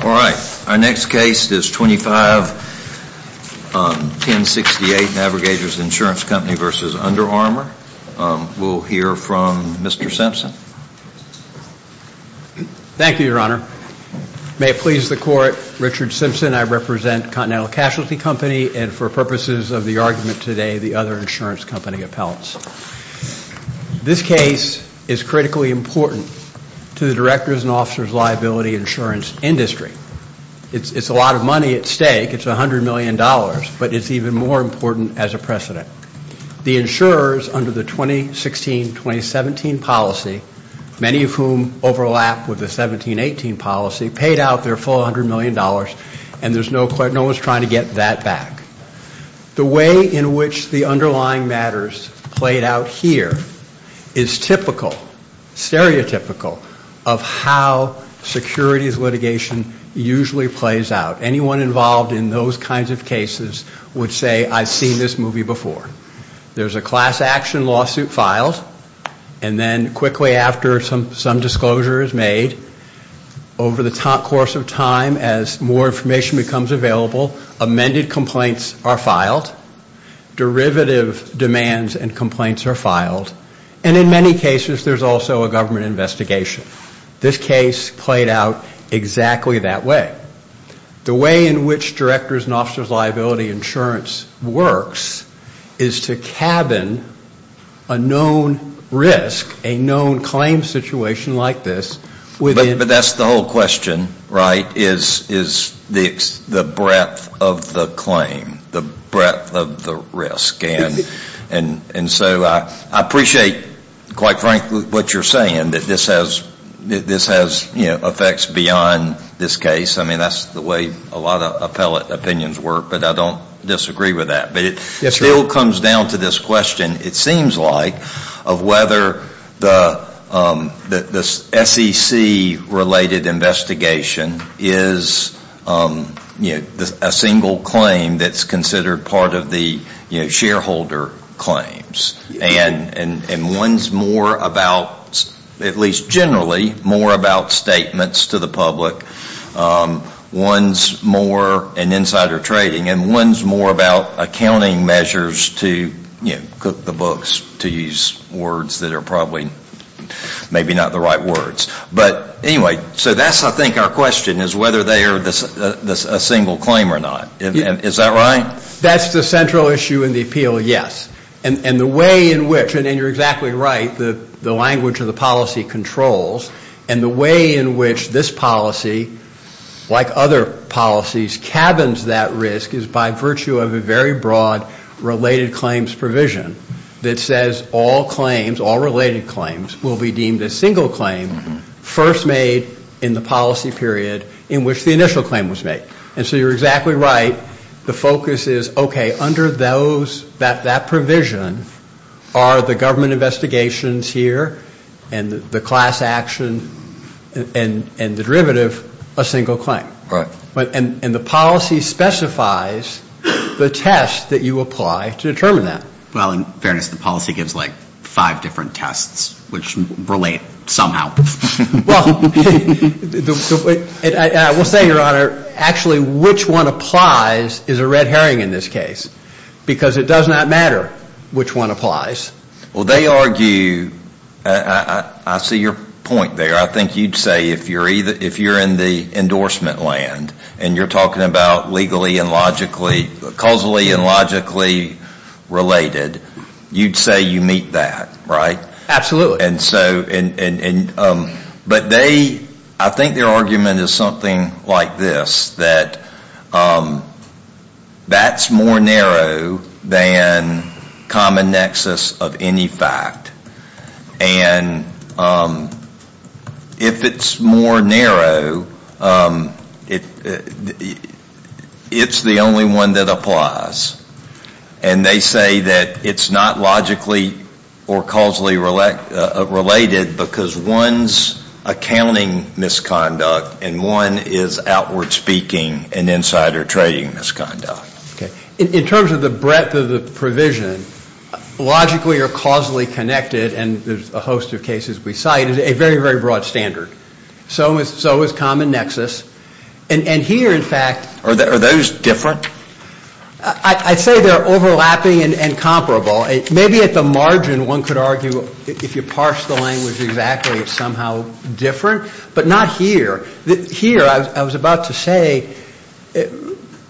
Alright, our next case is 25-1068, Navigators Insurance Company v. Under Armour. We'll hear from Mr. Simpson. Thank you, Your Honor. May it please the Court, Richard Simpson, I represent Continental Casualty Company and for purposes of the argument today, the other insurance company appellants. This case is critically important to the directors and officers' liability insurance industry. It's a lot of money at stake, it's $100 million, but it's even more important as a precedent. The insurers under the 2016-2017 policy, many of whom overlap with the 17-18 policy, paid out their full $100 million and no one's trying to get that back. The way in which the underlying matters played out here is typical, stereotypical, of how securities litigation usually plays out. Anyone involved in those kinds of cases would say, I've seen this movie before. There's a class action lawsuit filed and then quickly after some disclosure is made, over the course of time, as more information becomes available, amended complaints are filed, derivative demands and complaints are filed, and in many cases, there's also a government investigation. This case played out exactly that way. The way in which directors' and officers' liability insurance works is to cabin a known risk, a known claim situation like this within the jurisdiction. But that's the whole question, right, is the breadth of the claim, the breadth of the risk. And so I appreciate, quite frankly, what you're saying, that this has effects beyond this case. I mean, that's the way a lot of appellate opinions work, but I don't disagree with that. But it still comes down to this question, it seems like, of whether the SEC-related investigation is a single claim that's considered part of the shareholder claims. And one's more about, at least generally, more about statements to the public. One's more an insider trading, and one's more about accounting measures to, you know, cook the books, to use words that are probably maybe not the right words. But anyway, so that's, I think, our question, is whether they are a single claim or not. Is that right? That's the central issue in the appeal, yes. And the way in which, and you're exactly right, the language of the policy controls, and the way in which this policy, like other policies, cabins that risk is by virtue of a very broad related claims provision that says all claims, all related claims, will be deemed a single claim, first made in the policy period in which the initial claim was made. And so you're exactly right, the focus is, okay, under those, that provision, are the government investigations here, and the class action, and the derivative, a single claim. And the policy specifies the test that you apply to determine that. Well, in fairness, the policy gives like five different tests, which relate somehow. Well, I will say, Your Honor, actually, which one applies is a red herring in this case, because it does not matter which one applies. Well, they argue, I see your point there. I endorsement land, and you're talking about legally and logically, causally and logically related. You'd say you meet that, right? Absolutely. And so, and, but they, I think their argument is something like this, that that's more narrow than common nexus of any fact. And if it's more narrow, it, it's the only one that applies. And they say that it's not logically or causally related, because one's accounting misconduct, and one is outward speaking and insider trading misconduct. Okay. In terms of the breadth of the provision, logically or causally connected, and there's a host of cases we cite, is a very, very broad standard. So is common nexus. And here, in fact. Are those different? I'd say they're overlapping and comparable. Maybe at the margin, one could argue, if you parse the language exactly, it's somehow different, but not here. Here, I was about to say,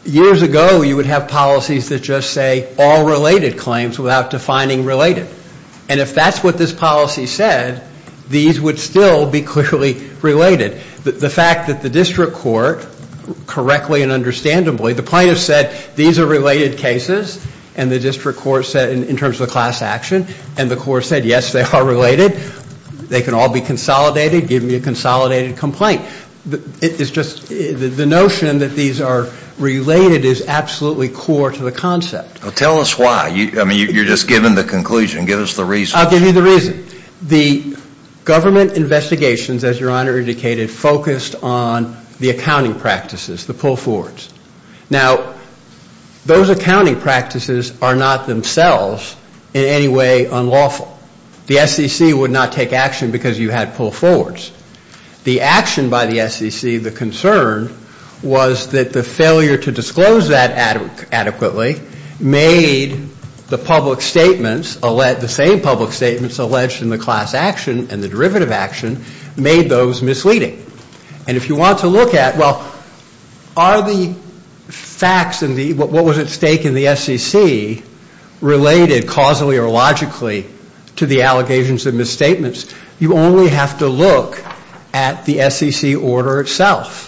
years ago, you would have policies that just say all related claims without defining related. And if that's what this policy said, these would still be clearly related. The fact that the district court, correctly and understandably, the plaintiff said, these are related cases, and the district court said, in terms of the class action, and the court said, yes, they are related, they can all be consolidated, give me a consolidated complaint. It's just, the notion that these are related is absolutely core to the concept. Tell us why. I mean, you're just giving the conclusion. Give us the reason. I'll give you the reason. The government investigations, as your honor indicated, focused on the accounting practices, the pull forwards. Now, those accounting practices are not themselves in any way unlawful. The SEC would not take action because you had pull forwards. The action by the SEC, the concern was that the failure to disclose that adequately made the public statements, the same public statements alleged in the class action and the derivative action, made those misleading. And if you want to look at, well, are the facts and what was at stake in the SEC related causally or to the allegations and misstatements, you only have to look at the SEC order itself.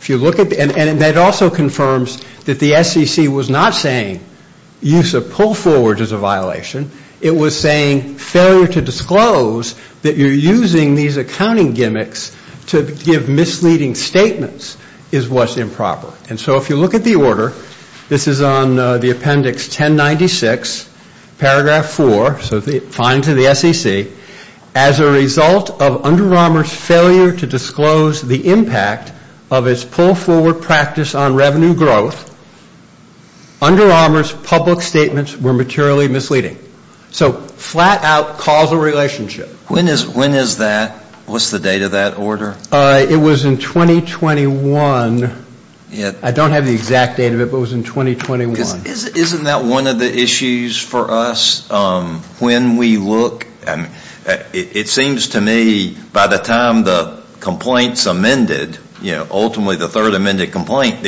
If you look at, and that also confirms that the SEC was not saying use of pull forwards is a violation. It was saying failure to disclose that you're using these accounting gimmicks to give misleading statements is what's improper. And so, if you look at the order, this is on the appendix 1096, paragraph 4, so it's fine to the SEC, as a result of Under Armour's failure to disclose the impact of its pull forward practice on revenue growth, Under Armour's public statements were materially misleading. So flat out causal relationship. When is that? What's the date of that order? It was in 2021. I don't have the exact date of it, but it was in 2021. Isn't that one of the issues for us when we look, it seems to me by the time the complaint's amended, ultimately the third amended complaint,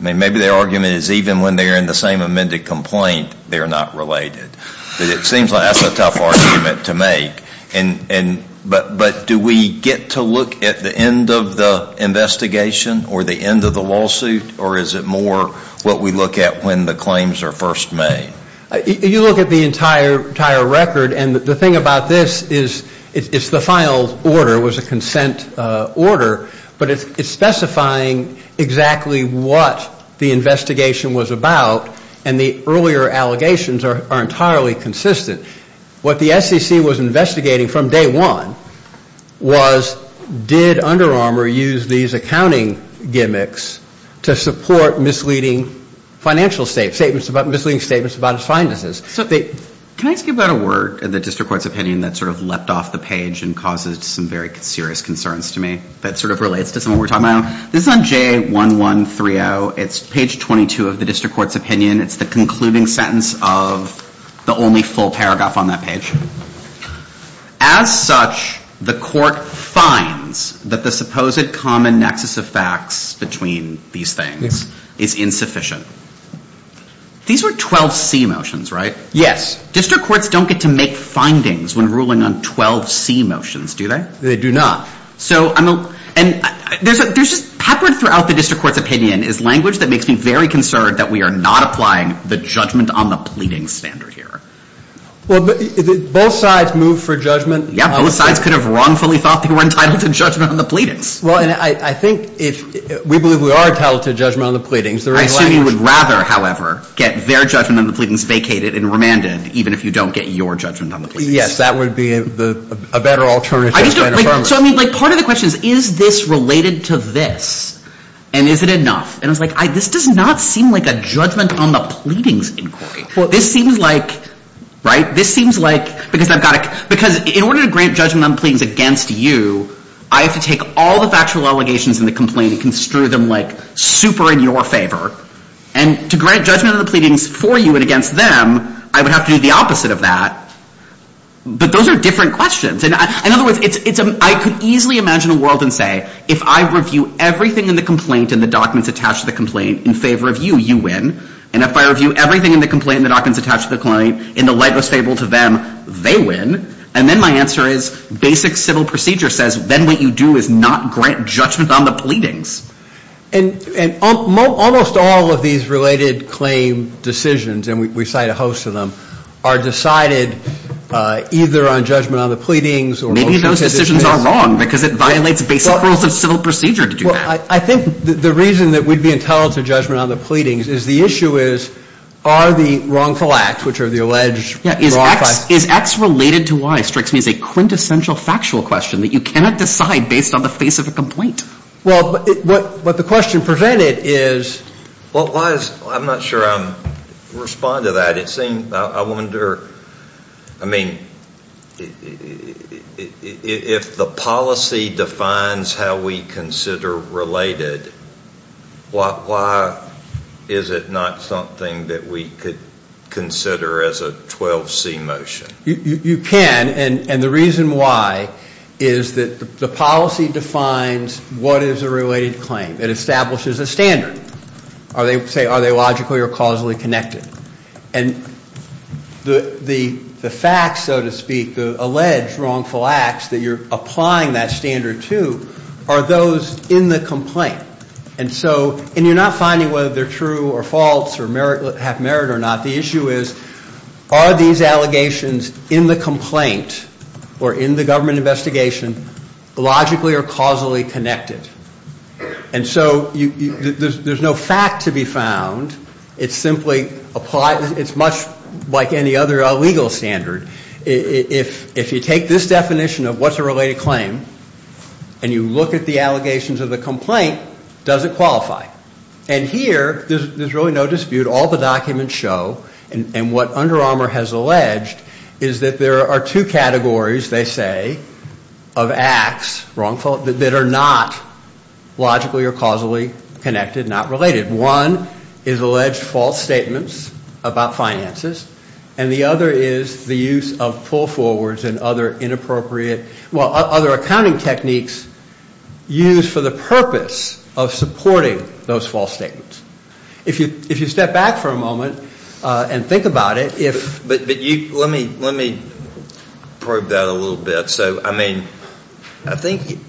maybe their argument is even when they're in the same amended complaint, they're not related. It seems like that's a tough argument to make. But do we get to look at the end of the investigation or the end of the lawsuit, or is it more what we look at when the claims are first made? You look at the entire record, and the thing about this is it's the final order, it was a consent order, but it's specifying exactly what the investigation was about, and the earlier allegations are entirely consistent. What the SEC was investigating from day one was did Under Armour use these accounting gimmicks to support misleading financial statements, misleading statements about its finances. So can I ask you about a word in the district court's opinion that sort of leapt off the page and causes some very serious concerns to me that sort of relates to some of what we're talking about? This is on J1130. It's page 22 of the district court's opinion. It's the concluding sentence of the only full paragraph on that page. As such, the court finds that the supposed common nexus of facts between these things is insufficient. These were 12C motions, right? Yes. District courts don't get to make findings when ruling on 12C motions, do they? They do not. And there's just peppered throughout the district court's opinion is language that makes me very concerned that we are not applying the judgment on the pleadings standard here. Well, both sides move for judgment. Yeah, both sides could have wrongfully thought they were entitled to judgment on the pleadings. Well, and I think if we believe we are entitled to judgment on the pleadings, there is language. I assume you would rather, however, get their judgment on the pleadings vacated and remanded, even if you don't get your judgment on the pleadings. Yes, that would be a better alternative to Under Armour. So, I mean, part of the question is, is this related to this, and is it enough? And I was like, this does not seem like a judgment on the pleadings inquiry. Well, this seems like, right, this seems like, because I've got to, because in order to grant judgment on the pleadings against you, I have to take all the factual allegations in the complaint and construe them, like, super in your favor. And to grant judgment on the pleadings for you and against them, I would have to do the opposite of that. But those are different questions. And in other words, I could easily imagine a world and say, if I review everything in the complaint and the documents attached to the complaint in favor of you, you win. And if I review everything in the complaint and the documents attached to the client in the lightest favor to them, they win. And then my answer is, basic civil procedure says, then what you do is not grant judgment on the pleadings. And almost all of these related claim decisions, and we cite a host of them, are decided either on judgment on the pleadings or... Maybe those decisions are wrong, because it violates basic rules of civil procedure to do that. I think the reason that we'd be entitled to judgment on the pleadings is the issue is, are the wrongful acts, which are the alleged... Is X related to Y, strikes me as a quintessential factual question that you cannot decide based on the face of a complaint. Well, what the question presented is... Well, I'm not sure I'm respond to that. It seems, I wonder, I mean, if the policy defines how we consider related, why is it not something that we could consider as a 12C motion? You can, and the reason why is that the policy defines what is a related claim. It establishes a standard. Are they logically or causally connected? And the facts, so to speak, the alleged wrongful acts that you're applying that standard to, are those in the complaint. And so, and you're not finding whether they're true or false or have merit or not. The issue is, are these allegations in the complaint or in the government investigation logically or causally connected? And so there's no fact to be found. It's simply applied. It's much like any other legal standard. If you take this definition of what's a related claim, and you look at the allegations of the complaint, does it qualify? And here, there's really no dispute. All the documents show, and what Under Armour has alleged, is that there are two categories, they say, of acts, wrongful, that are not logically or causally connected, not related. One is alleged false statements about finances. And the other is the use of pull-forwards and other inappropriate, well, other accounting techniques used for the purpose of supporting those false statements. If you step back for a moment and think about it, if... Let me probe that a little bit. So, I mean, I think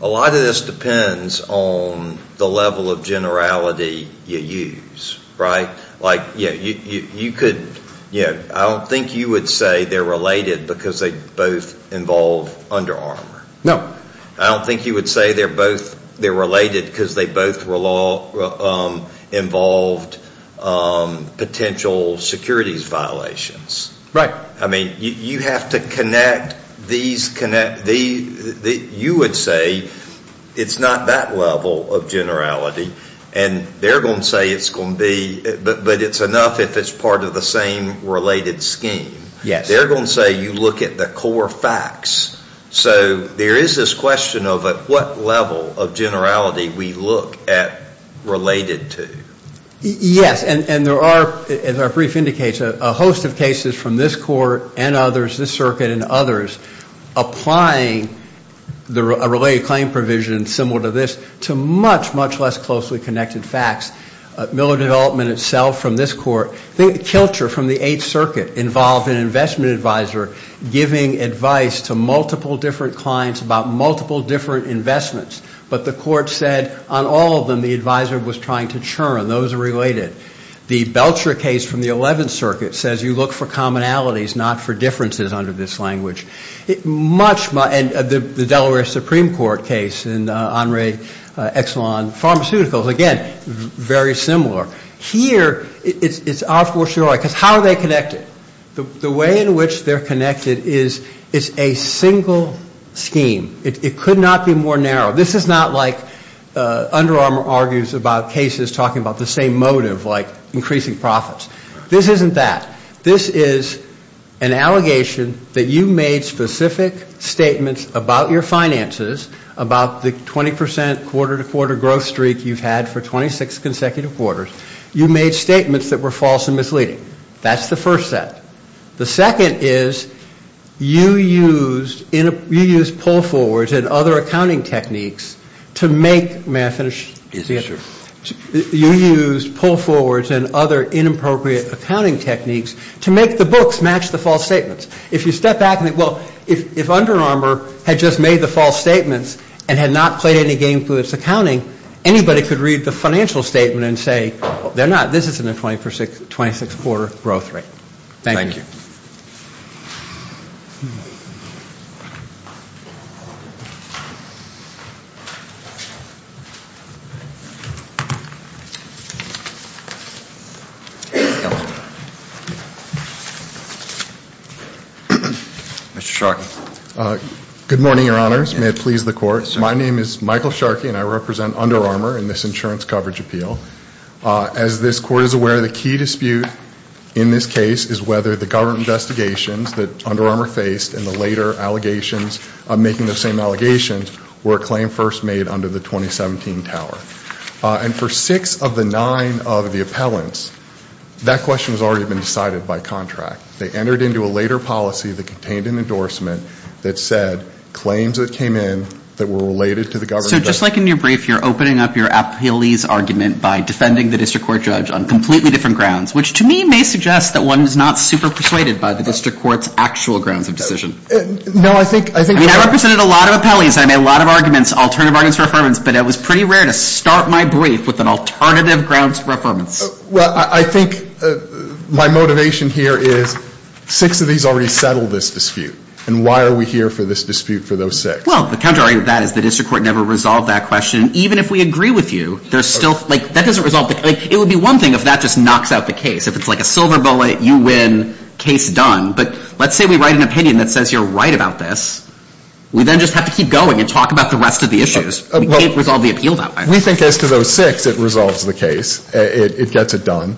a lot of this depends on the level of generality you use, right? I don't think you would say they're related because they both involve Under Armour. No. I don't think you would say they're related because they both involved potential securities violations. Right. I mean, you have to connect these... You would say it's not that level of generality, and they're going to say it's going to be... But it's enough if it's part of the same related scheme. Yes. They're going to say you look at the core facts. So, there is this question of at what level of generality we look at related to. Yes. And there are, as our brief indicates, a host of cases from this court and others, this circuit and others, applying a related claim provision similar to this to much, much less closely connected facts. Miller Development itself from this court. I think Kilcher from the Eighth Circuit involved an investment advisor giving advice to multiple different clients about multiple different investments. But the court said on all of them, the advisor was trying to churn. Those are related. The Belcher case from the Eleventh Circuit says you look for commonalities, not for differences under this language. Much more... And the Delaware Supreme Court case in Henri Exelon Pharmaceuticals. Again, very similar. Here, it's our fortiori because how are they connected? The way in which they're connected is it's a single scheme. It could not be more narrow. This is not like Under Armour argues about cases talking about the same motive, like increasing profits. This isn't that. This is an allegation that you made specific statements about your finances, about the 20% quarter-to-quarter growth streak you've had for 26 consecutive quarters. You made statements that were false and misleading. That's the first set. The second is you used pull-forwards and other accounting techniques to make... May I finish? You used pull-forwards and other inappropriate accounting techniques to make the books match the false statements. If you step back and think, well, if Under Armour had just made the false statements and had not played any game through its accounting, anybody could read the financial statement and say, they're not, this isn't a 26 quarter growth rate. Thank you. Mr. Sharkey. Good morning, your honors. May it please the court. My name is Michael Sharkey and I represent Under Armour in this insurance coverage appeal. As this court is aware, the key dispute in this case is whether the government investigations that Under Armour faced and the later allegations, making those same allegations, were a claim first made under the 2017 tower. And for six of the nine of the appellants, that question has already been decided by contract. They entered into a later policy that contained an endorsement that said, claims that came in that were related to the government... So just like in your brief, you're opening up your appealese argument by defending the district court judge on completely different grounds, which to me may suggest that one is not super persuaded by the district court's actual grounds of decision. No, I think... I mean, I represented a lot of appellees. I made a lot of arguments, alternative arguments for affirmance, but it was pretty rare to start my brief with an alternative grounds for affirmance. Well, I think my motivation here is six of these already settled this dispute. And why are we here for this dispute for those six? Well, the contrary to that is the district court never resolved that question. Even if we agree with you, there's still... Like that doesn't resolve... It would be one thing if that just knocks out the case. If it's like a silver bullet, you win, case done. But let's say we write an opinion that says you're right about this. We then just have to keep going and talk about the rest of the issues. We can't resolve the appeal that way. We think as to those six, it resolves the case. It gets it done.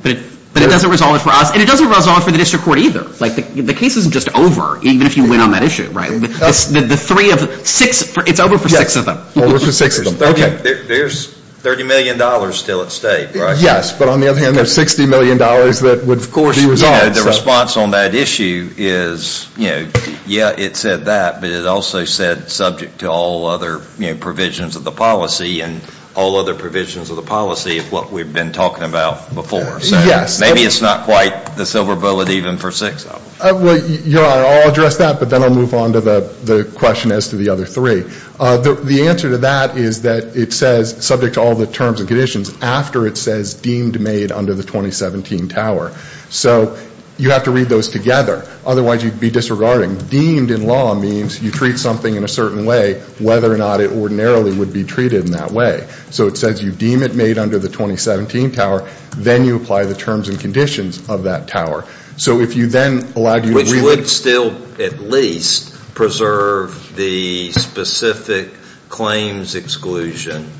But it doesn't resolve it for us. And it doesn't resolve for the district court either. Like the case isn't just over, even if you win on that issue, right? The three of six... It's over for six of them. Over for six of them. There's $30 million still at stake, right? Yes. But on the other hand, there's $60 million that would, of course, be resolved. The response on that issue is, you know, yeah, it said that. But it also said subject to all other provisions of the policy and all other provisions of the policy of what we've been talking about before. So maybe it's not quite the silver bullet even for six of them. Well, I'll address that. But then I'll move on to the question as to the other three. The answer to that is that it says subject to all the terms and conditions after it says deemed made under the 2017 tower. So you have to read those together. Otherwise, you'd be disregarding. Deemed in law means you treat something in a certain way, whether or not it ordinarily would be treated in that way. So it says you deem it made under the 2017 tower. Then you apply the terms and conditions of that tower. So if you then allowed... Which would still at least preserve the specific claims exclusion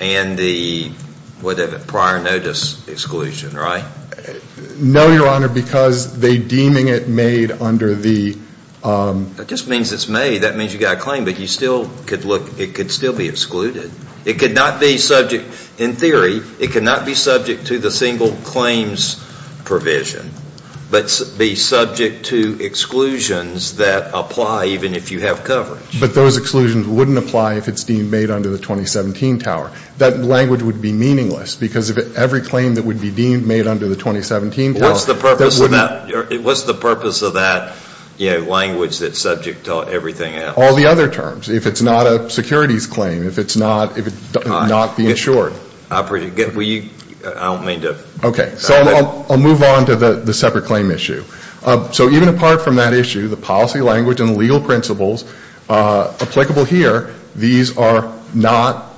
and the prior notice exclusion, right? No, Your Honor, because they're deeming it made under the... That just means it's made. That means you got a claim. But you still could look... It could still be excluded. It could not be subject... In theory, it cannot be subject to the single claims provision. But be subject to exclusions that apply even if you have coverage. But those exclusions wouldn't apply if it's deemed made under the 2017 tower. That language would be meaningless because if every claim that would be deemed made under the 2017 tower... What's the purpose of that language that's subject to everything else? All the other terms. If it's not a securities claim, if it's not the insured. I don't mean to... Okay. So I'll move on to the separate claim issue. So even apart from that issue, the policy language and legal principles applicable here, these are not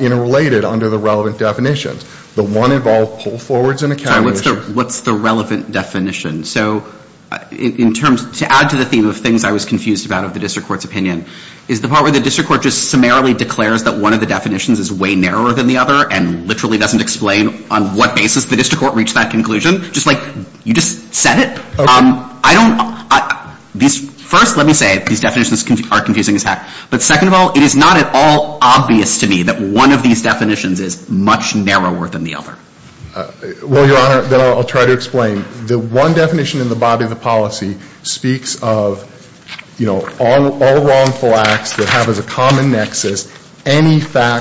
interrelated under the relevant definitions. The one involved pull forwards and... Sorry, what's the relevant definition? So in terms... To add to the theme of things I was confused about of the district court's opinion is the part where the district court just summarily declares that one of the definitions is way narrower than the other and literally doesn't explain on what basis the district court reached that conclusion. Just like you just said it. First, let me say these definitions are confusing as heck. But second of all, it is not at all obvious to me that one of these definitions is much narrower than the other. Well, Your Honor, then I'll try to explain. The one definition in the body of the policy speaks of all wrongful acts that have as a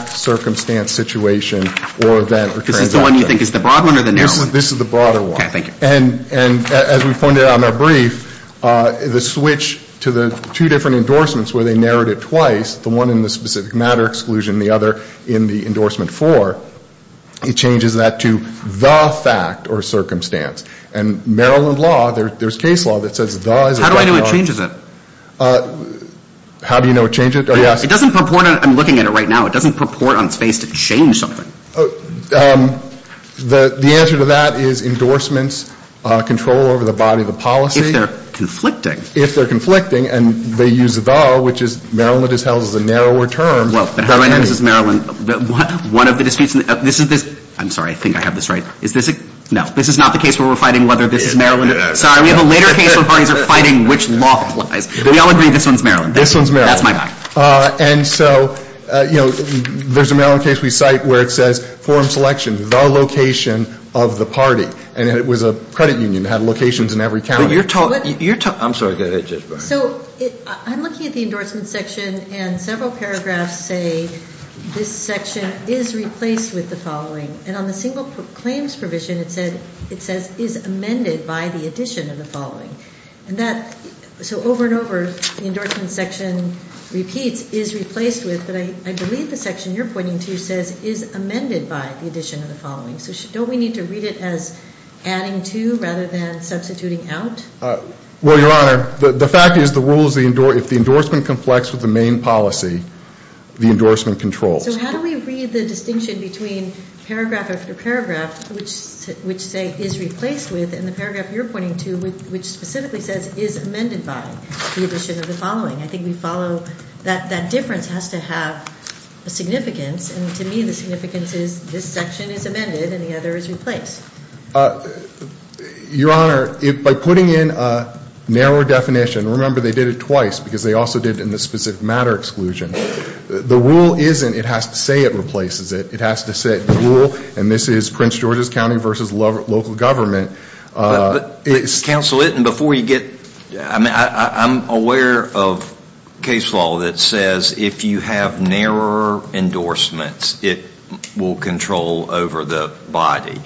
circumstance, situation, or event... This is the one you think is the broad one or the narrow one? This is the broader one. Okay, thank you. And as we pointed out in our brief, the switch to the two different endorsements where they narrowed it twice, the one in the specific matter exclusion and the other in the endorsement for, it changes that to the fact or circumstance. And Maryland law, there's case law that says the... How do I know it changes it? How do you know it changes it? Oh, yes. It doesn't purport... I'm looking at it right now. It doesn't purport on its face to change something. The answer to that is endorsements control over the body of the policy. If they're conflicting. If they're conflicting and they use the though, which is Maryland is held as a narrower term. Well, but how do I know this is Maryland? One of the disputes in the... This is this... I'm sorry. I think I have this right. Is this a... No, this is not the case where we're fighting whether this is Maryland. Sorry, we have a later case where parties are fighting which law applies. But we all agree this one's Maryland. This one's Maryland. That's my guy. And so, you know, there's a Maryland case we cite where it says forum selection, the location of the party. And it was a credit union that had locations in every county. But you're talking... I'm sorry. Go ahead, Judge Barnes. So I'm looking at the endorsement section and several paragraphs say this section is replaced with the following. And on the single claims provision, it says is amended by the addition of the following. And that... So over and over, the endorsement section repeats is replaced with. But I believe the section you're pointing to says is amended by the addition of the following. So don't we need to read it as adding to rather than substituting out? Well, Your Honor, the fact is the rules... If the endorsement conflicts with the main policy, the endorsement controls. So how do we read the distinction between paragraph after paragraph which say is replaced with and the paragraph you're pointing to which specifically says is amended by the addition of the following? I think we follow that that difference has to have a significance. And to me, the significance is this section is amended and the other is replaced. Your Honor, by putting in a narrower definition, remember they did it twice because they also did in the specific matter exclusion. The rule isn't it has to say it replaces it. It has to say rule and this is Prince George's County versus local government. Counsel, before you get... I'm aware of case law that says if you have narrower endorsements, it will control over the body.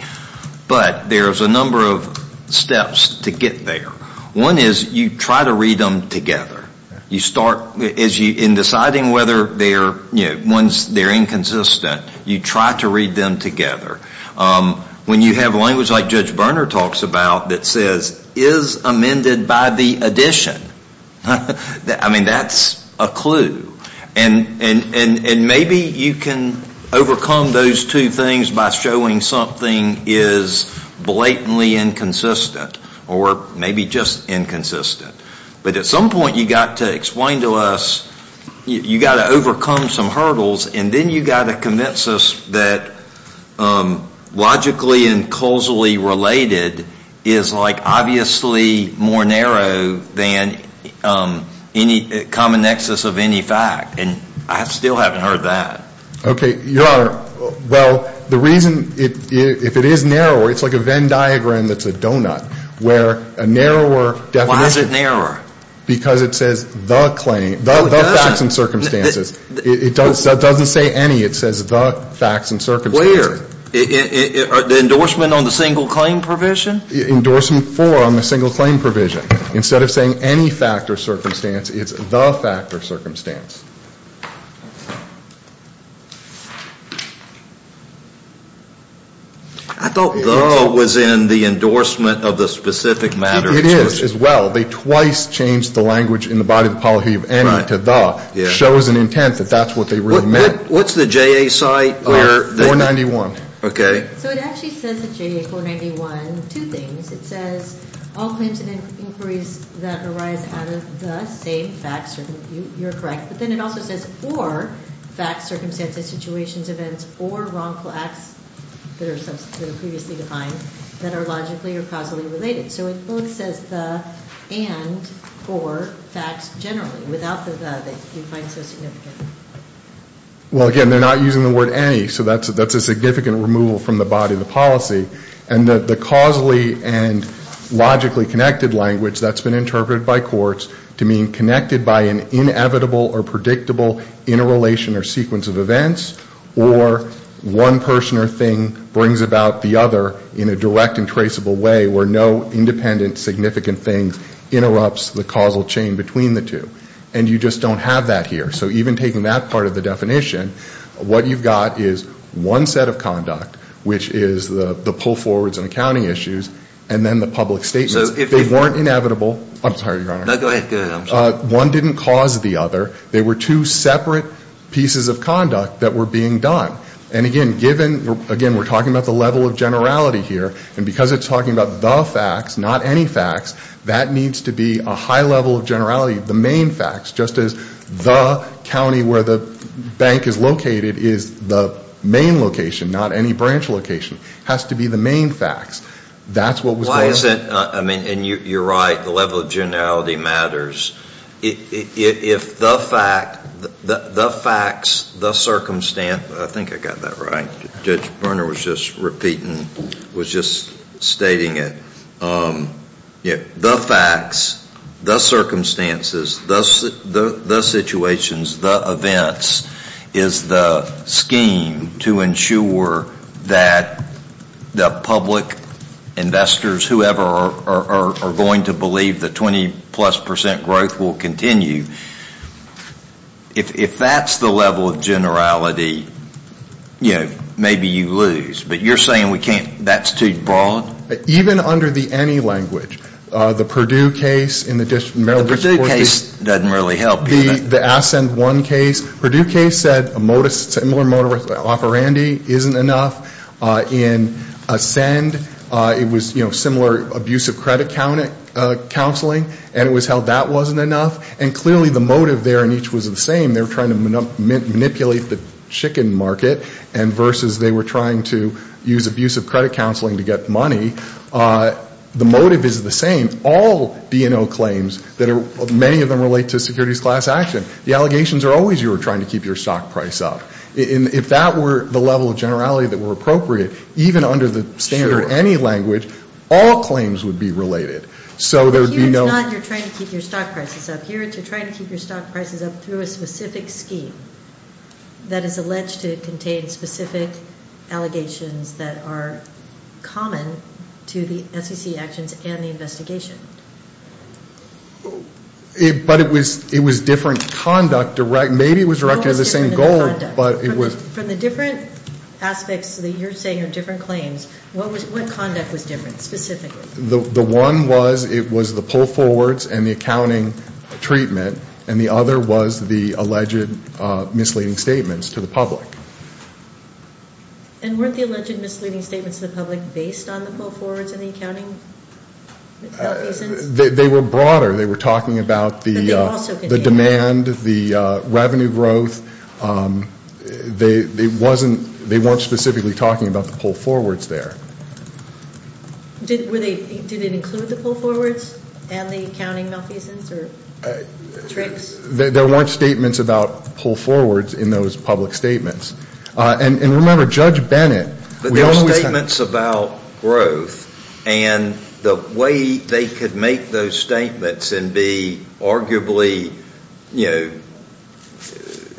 But there's a number of steps to get there. One is you try to read them together. You start in deciding whether they're inconsistent, you try to read them together. When you have language like Judge Berner talks about that says is amended by the addition, I mean that's a clue. And maybe you can overcome those two things by showing something is blatantly inconsistent or maybe just inconsistent. But at some point you got to explain to us, you got to overcome some hurdles and then you got to convince us that logically and causally related is like obviously more narrow than any common nexus of any fact. And I still haven't heard that. Okay. Your Honor, well, the reason if it is narrower, it's like a Venn diagram that's a donut where a narrower definition... Why is it narrower? Because it says the claim, the facts and circumstances. It doesn't say any. It says the facts and circumstances. The endorsement on the single claim provision? Endorsement for on the single claim provision. Instead of saying any fact or circumstance, it's the fact or circumstance. I thought the was in the endorsement of the specific matter. It is as well. They twice changed the language in the body of the policy of any to the. Shows an intent that that's what they really meant. What's the JA site where... 491. Okay. So it actually says the JA 491, two things. It says all claims and inquiries that arise out of the same facts, you're correct. But then it also says or facts, circumstances, situations, events, or wrongful acts that are previously defined that are logically or causally related. So it both says the and or facts generally without the the that you find so significant. Well, again, they're not using the word any. So that's a significant removal from the body of the policy. And the causally and logically connected language that's been interpreted by courts to mean connected by an inevitable or predictable interrelation or sequence of events or one person or thing brings about the other in a direct and traceable way where no independent significant thing interrupts the causal chain between the two. And you just don't have that here. So even taking that part of the definition, what you've got is one set of conduct, which is the pull forwards and accounting issues, and then the public statements. They weren't inevitable. I'm sorry, Your Honor. No, go ahead. One didn't cause the other. They were two separate pieces of conduct that were being done. And again, given again, we're talking about the level of generality here. And because it's talking about the facts, not any facts, that needs to be a high level of generality. The main facts, just as the county where the bank is located is the main location, not any branch location, has to be the main facts. That's what was. Why is it? I mean, and you're right. The level of generality matters. If the facts, the circumstances, I think I got that right. Judge Berner was just repeating, was just stating it. The facts, the circumstances, the situations, the events is the scheme to ensure that the public, investors, whoever are going to believe the 20 plus percent growth will continue. If that's the level of generality, you know, maybe you lose. But you're saying we can't, that's too broad? Even under the any language. The Purdue case in the district. The Purdue case doesn't really help. The Ascend One case. Purdue case said a similar modus operandi isn't enough. In Ascend, it was, you know, similar abusive credit counseling. And it was how that wasn't enough. And clearly the motive there in each was the same. They were trying to manipulate the chicken market. And versus they were trying to use abusive credit counseling to get money. The motive is the same. All DNO claims that are, many of them relate to securities class action. The allegations are always you were trying to keep your stock price up. If that were the level of generality that were appropriate, even under the standard any language, all claims would be related. So there would be no. Here it's not you're trying to keep your stock prices up. Here it's you're trying to keep your stock prices up through a specific scheme that is alleged to contain specific allegations that are common to the SEC actions and the investigation. But it was different conduct. Maybe it was directed at the same goal, but it was. From the different aspects that you're saying are different claims, what conduct was different specifically? The one was, it was the pull forwards and the accounting treatment. And the other was the alleged misleading statements to the public. And weren't the alleged misleading statements to the public based on the pull forwards and the accounting? They were broader. They were talking about the demand, the revenue growth. They weren't specifically talking about the pull forwards there. Did it include the pull forwards and the accounting malfeasance or tricks? There weren't statements about pull forwards in those public statements. And remember, Judge Bennett. But there were statements about growth, and the way they could make those statements and be arguably, you know,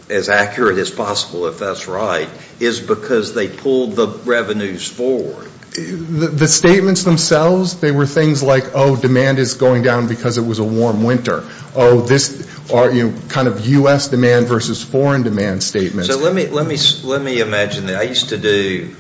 as accurate as possible, if that's right, is because they pulled the revenues forward. The statements themselves, they were things like, oh, demand is going down because it was a warm winter. Oh, this kind of U.S. demand versus foreign demand statements. So let me imagine that I used to do,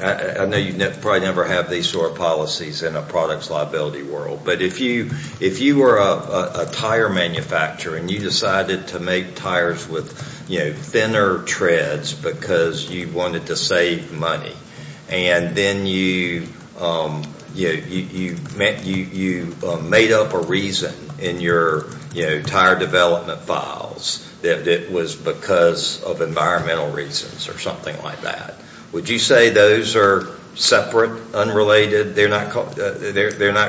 I know you probably never have these sort of policies in a products liability world. But if you were a tire manufacturer and you decided to make tires with thinner treads because you wanted to save money, and then you made up a reason in your tire development files that it was because of environmental reasons or something like that, would you say those are separate, unrelated? They're not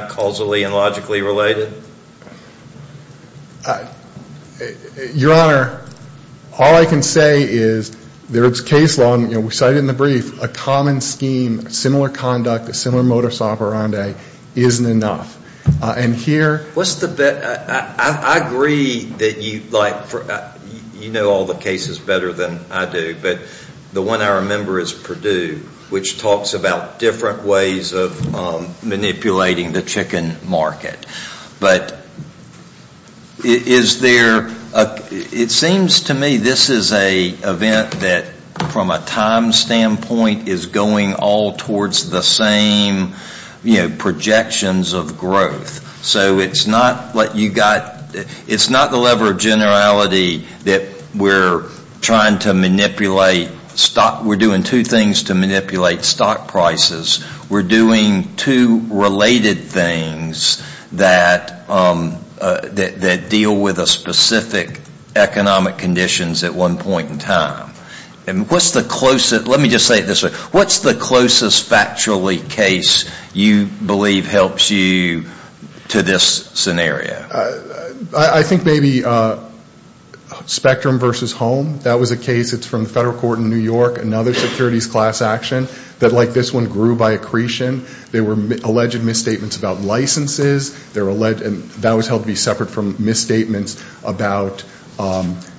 causally and logically related? Your Honor, all I can say is there is case law, and we cite it in the brief, a common scheme, similar conduct, a similar modus operandi isn't enough. And here What's the, I agree that you like, you know all the cases better than I do, but the one I remember is Purdue, which talks about different ways of manipulating the chicken market. But is there, it seems to me this is an event that from a time standpoint is going all towards the same projections of growth. So it's not what you got, it's not the level of generality that we're trying to manipulate stock, we're doing two things to manipulate stock prices. We're doing two related things that deal with a specific economic conditions at one point in time. And what's the closest, let me just say it this way. What's the closest factually case you believe helps you to this scenario? I think maybe Spectrum versus Home. That was a case, it's from the federal court in New York, another securities class action that like this one grew by accretion. There were alleged misstatements about licenses, that was held to be separate from misstatements about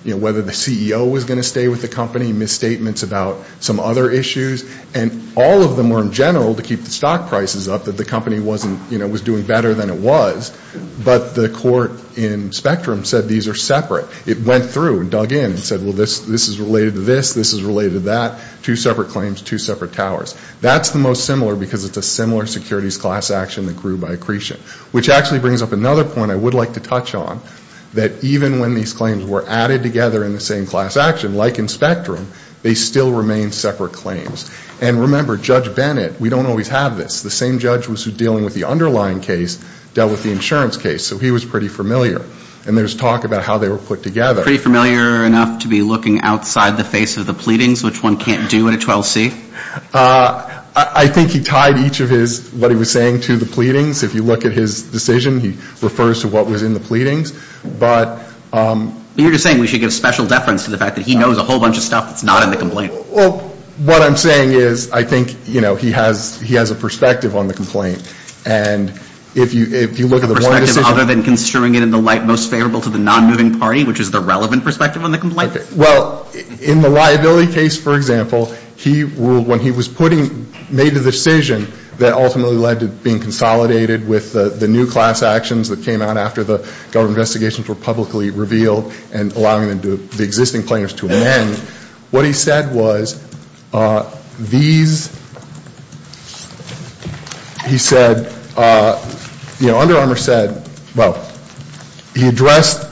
whether the CEO was going to stay with the company, misstatements about some other issues, and all of them were in general to keep the stock prices up that the company wasn't, you know, was doing better than it was. But the court in Spectrum said these are separate. It went through and dug in and said well this is related to this, this is related to that, two separate claims, two separate towers. That's the most similar because it's a similar securities class action that grew by accretion. Which actually brings up another point I would like to touch on, that even when these claims were added together in the same class action, like in Spectrum, they still remain separate claims. And remember Judge Bennett, we don't always have this. The same judge who was dealing with the underlying case dealt with the insurance case. So he was pretty familiar. And there's talk about how they were put together. Pretty familiar enough to be looking outside the face of the pleadings, which one can't do at a 12C? I think he tied each of his, what he was saying to the pleadings. If you look at his decision, he refers to what was in the pleadings. But you're just saying we should give special deference to the fact that he knows a whole bunch of stuff that's not in the complaint. Well, what I'm saying is I think, you know, he has a perspective on the complaint. And if you look at the one decision. A perspective other than construing it in the light most favorable to the non-moving party, which is the relevant perspective on the complaint? Well, in the liability case, for example, he ruled when he was putting, made the decision that ultimately led to being consolidated with the new class actions that came out after the government investigations were publicly revealed and allowing them to, the existing plaintiffs to amend, what he said was these, he said, you know, Under Armour said, well, he addressed,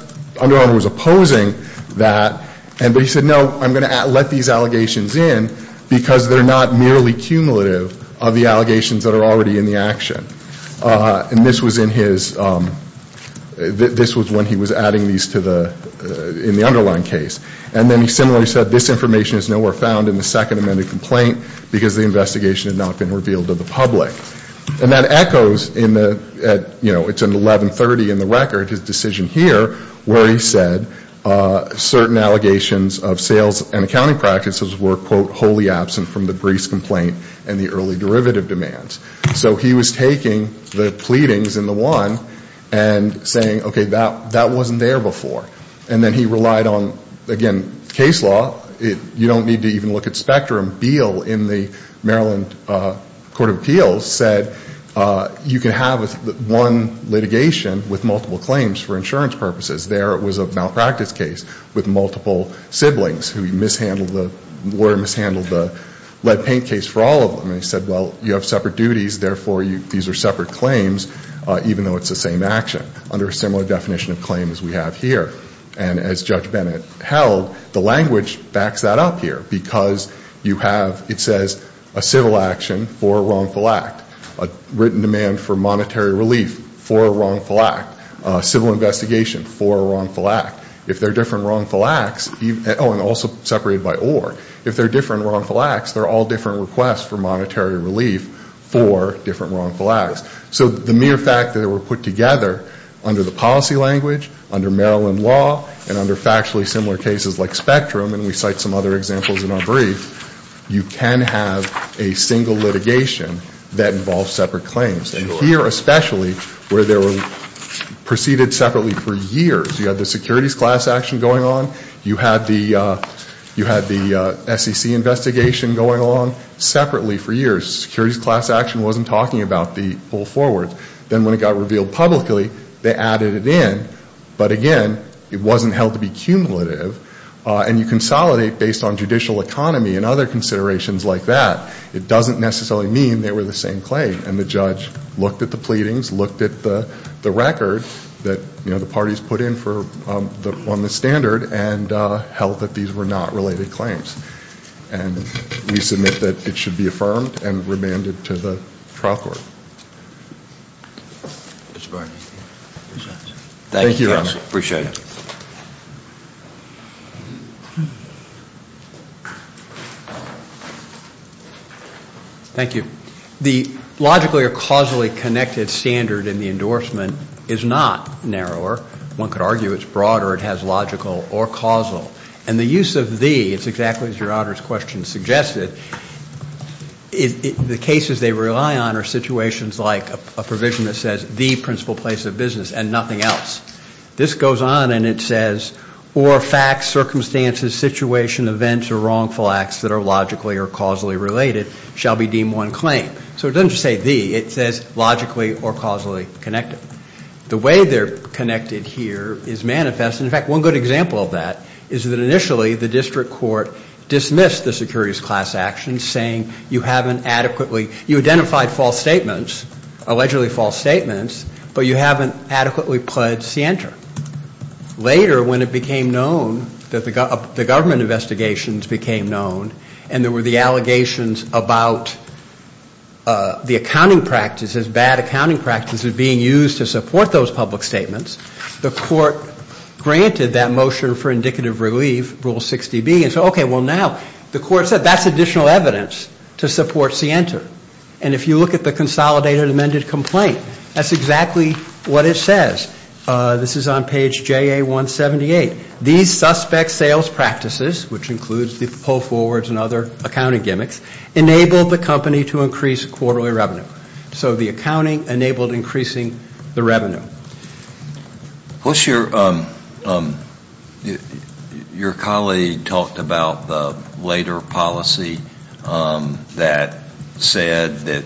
Under Armour was opposing that. And he said, no, I'm going to let these allegations in because they're not merely cumulative of the allegations that are already in the action. And this was in his, this was when he was adding these to the, in the underlying case. And then he similarly said, this information is nowhere found in the second amended complaint because the investigation had not been revealed to the public. And that echoes in the, you know, it's an 1130 in the record, his decision here, where he said certain allegations of sales and accounting practices were, quote, wholly absent from the briefs complaint and the early derivative demands. So he was taking the pleadings in the one and saying, okay, that, that wasn't there before. And then he relied on, again, case law. You don't need to even look at spectrum. Beal in the Maryland Court of Appeals said you can have one litigation with multiple claims for insurance purposes. There it was a malpractice case with multiple siblings who mishandled the, the lawyer mishandled the lead paint case for all of them. And he said, well, you have separate duties. Therefore, you, these are separate claims even though it's the same action under a similar definition of claims we have here. And as Judge Bennett held, the language backs that up here because you have, it says a civil action for a wrongful act. A written demand for monetary relief for a wrongful act. Civil investigation for a wrongful act. If they're different wrongful acts, oh, and also separated by or. If they're different wrongful acts, they're all different requests for monetary relief for different wrongful acts. So the mere fact that they were put together under the policy language, under Maryland law, and under factually similar cases like spectrum, and we cite some other examples in our brief, you can have a single litigation that involves separate claims. And here especially where they were preceded separately for years. You had the securities class action going on. You had the SEC investigation going on separately for years. Securities class action wasn't talking about the full forward. Then when it got revealed publicly, they added it in. But again, it wasn't held to be cumulative. And you consolidate based on judicial economy and other considerations like that. It doesn't necessarily mean they were the same claim. And the judge looked at the pleadings, looked at the record that, you know, the parties put in for, on the standard, and held that these were not related claims. And we submit that it should be affirmed and remanded to the trial court. Mr. Barnett. Thank you, Your Honor. Appreciate it. Thank you. The logically or causally connected standard in the endorsement is not narrower. One could argue it's broader. It has logical or causal. And the use of the, it's exactly as Your Honor's question suggested, the cases they rely on are situations like a provision that says the principal place of business and nothing else. This goes on and it says, or facts, circumstances, situation, events, or wrongful acts that are logically or causally related shall be deemed one claim. So it doesn't just say the. It says logically or causally connected. The way they're connected here is manifest. And in fact, one good example of that is that initially the district court dismissed the securities class actions, saying you haven't adequately, you identified false statements, allegedly false statements, but you haven't adequately pled scienter. Later when it became known that the government investigations became known and there were the allegations about the accounting practices, bad accounting practices being used to support those public statements, the court granted that motion for indicative relief, rule 60B. And so okay, well now the court said that's additional evidence to support scienter. And if you look at the consolidated amended complaint, that's exactly what it says. This is on page JA178. These suspect sales practices, which includes the pull forwards and other accounting gimmicks, enabled the company to increase quarterly revenue. So the accounting enabled increasing the revenue. What's your, your colleague talked about the later policy that said that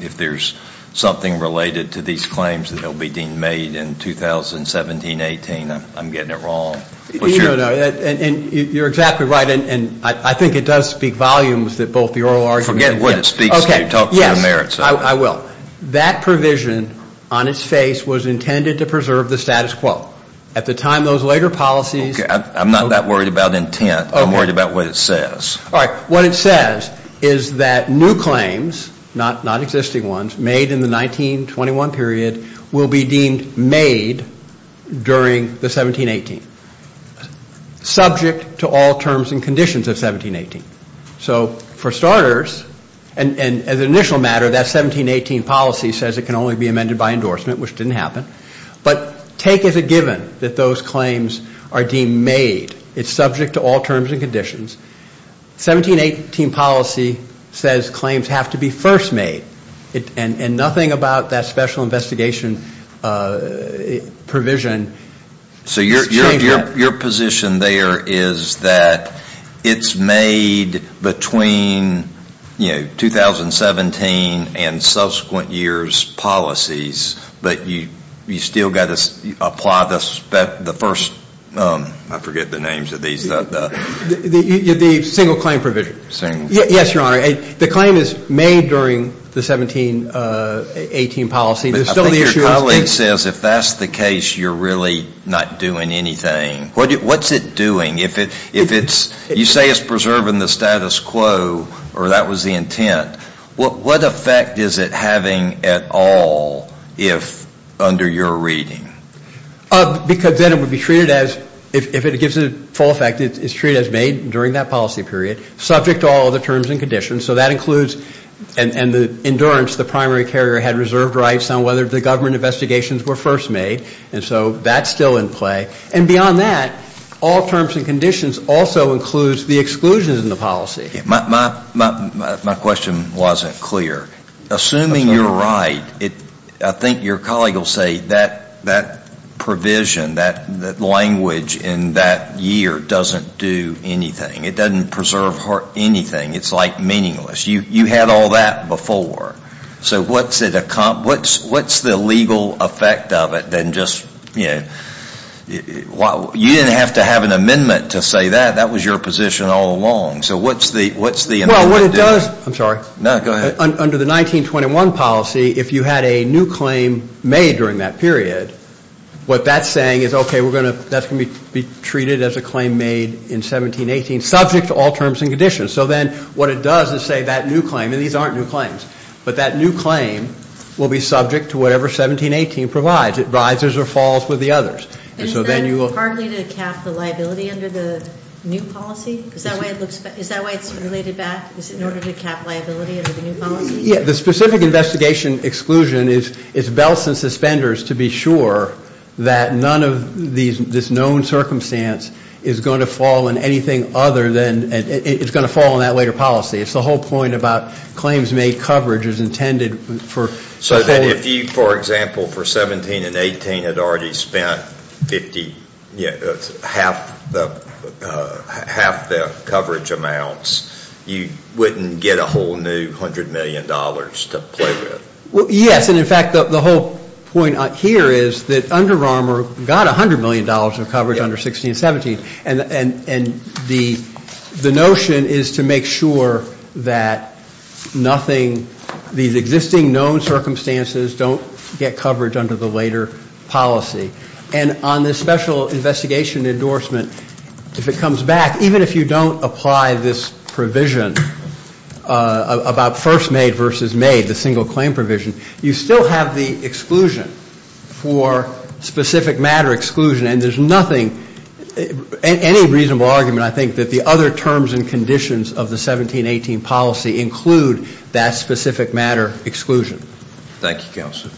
if there's something related to these claims, they'll be deemed made in 2017-18. I'm getting it wrong. No, no, and you're exactly right. And I think it does speak volumes that both the oral argument. Forget what it speaks to. Yes, I will. That provision on its face was intended to preserve the status quo. At the time those later policies. I'm not that worried about intent. I'm worried about what it says. All right, what it says is that new claims, not existing ones, made in the 1921 period will be deemed made during the 17-18. Subject to all terms and conditions of 17-18. So for starters, and as an initial matter, that 17-18 policy says it can only be amended by endorsement, which didn't happen. But take as a given that those claims are deemed made. It's subject to all terms and conditions. 17-18 policy says claims have to be first made. And nothing about that special investigation provision. So your position there is that it's made between, you know, 2017 and subsequent years policies. But you still got to apply the first, I forget the names of these. The single claim provision. Yes, your honor. The claim is made during the 17-18 policy. I think your colleague says if that's the case, you're really not doing anything. What's it doing? You say it's preserving the status quo, or that was the intent. What effect is it having at all if under your reading? Because then it would be treated as, if it gives a full effect, it's treated as made during that policy period. Subject to all other terms and conditions. So that includes, and the endurance, the primary carrier had reserved rights on whether the government investigations were first made. And so that's still in play. And beyond that, all terms and conditions also includes the exclusions in the policy. My question wasn't clear. Assuming you're right, I think your colleague will say that provision, that language in that year doesn't do anything. It doesn't preserve anything. It's like meaningless. You had all that before. So what's the legal effect of it than just, you know, you didn't have to have an amendment to say that. That was your position all along. So what's the amendment do? Well, what it does, I'm sorry. No, go ahead. Under the 1921 policy, if you had a new claim made during that period, what that's saying is, okay, that's going to be treated as a claim made in 17-18, subject to all terms and conditions. So then what it does is say that new claim, and these aren't new claims, but that new claim will be subject to whatever 17-18 provides. It rises or falls with the others. And so then you will- And is that partly to cap the liability under the new policy? Is that why it's related back? Is it in order to cap liability under the new policy? Yeah. The specific investigation exclusion is belts and suspenders to be sure that none of this known circumstance is going to fall in anything other than, it's going to fall in that later policy. It's the whole point about claims made coverage is intended for- So then if you, for example, for 17-18 had already spent half the coverage amounts, you wouldn't get a whole new $100 million to play with? Well, yes. And in fact, the whole point here is that Under Armour got $100 million of coverage under 16-17. And the notion is to make sure that nothing, these existing known circumstances don't get coverage under the later policy. And on this special investigation endorsement, if it comes back, even if you don't apply this provision about first made versus made, the single claim provision, you still have the exclusion for specific matter exclusion. And there's nothing, any reasonable argument, I think, that the other terms and conditions of the 17-18 policy include that specific matter exclusion. Thank you, Counselor.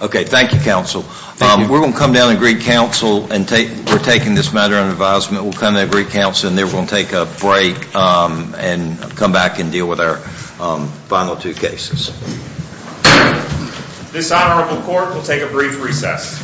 Okay. Thank you, Counsel. We're going to come down and greet Counsel. And we're taking this matter under advisement. We'll come down and greet Counsel. And then we'll take a break and come back and deal with our final two cases. This Honorable Court will take a brief recess.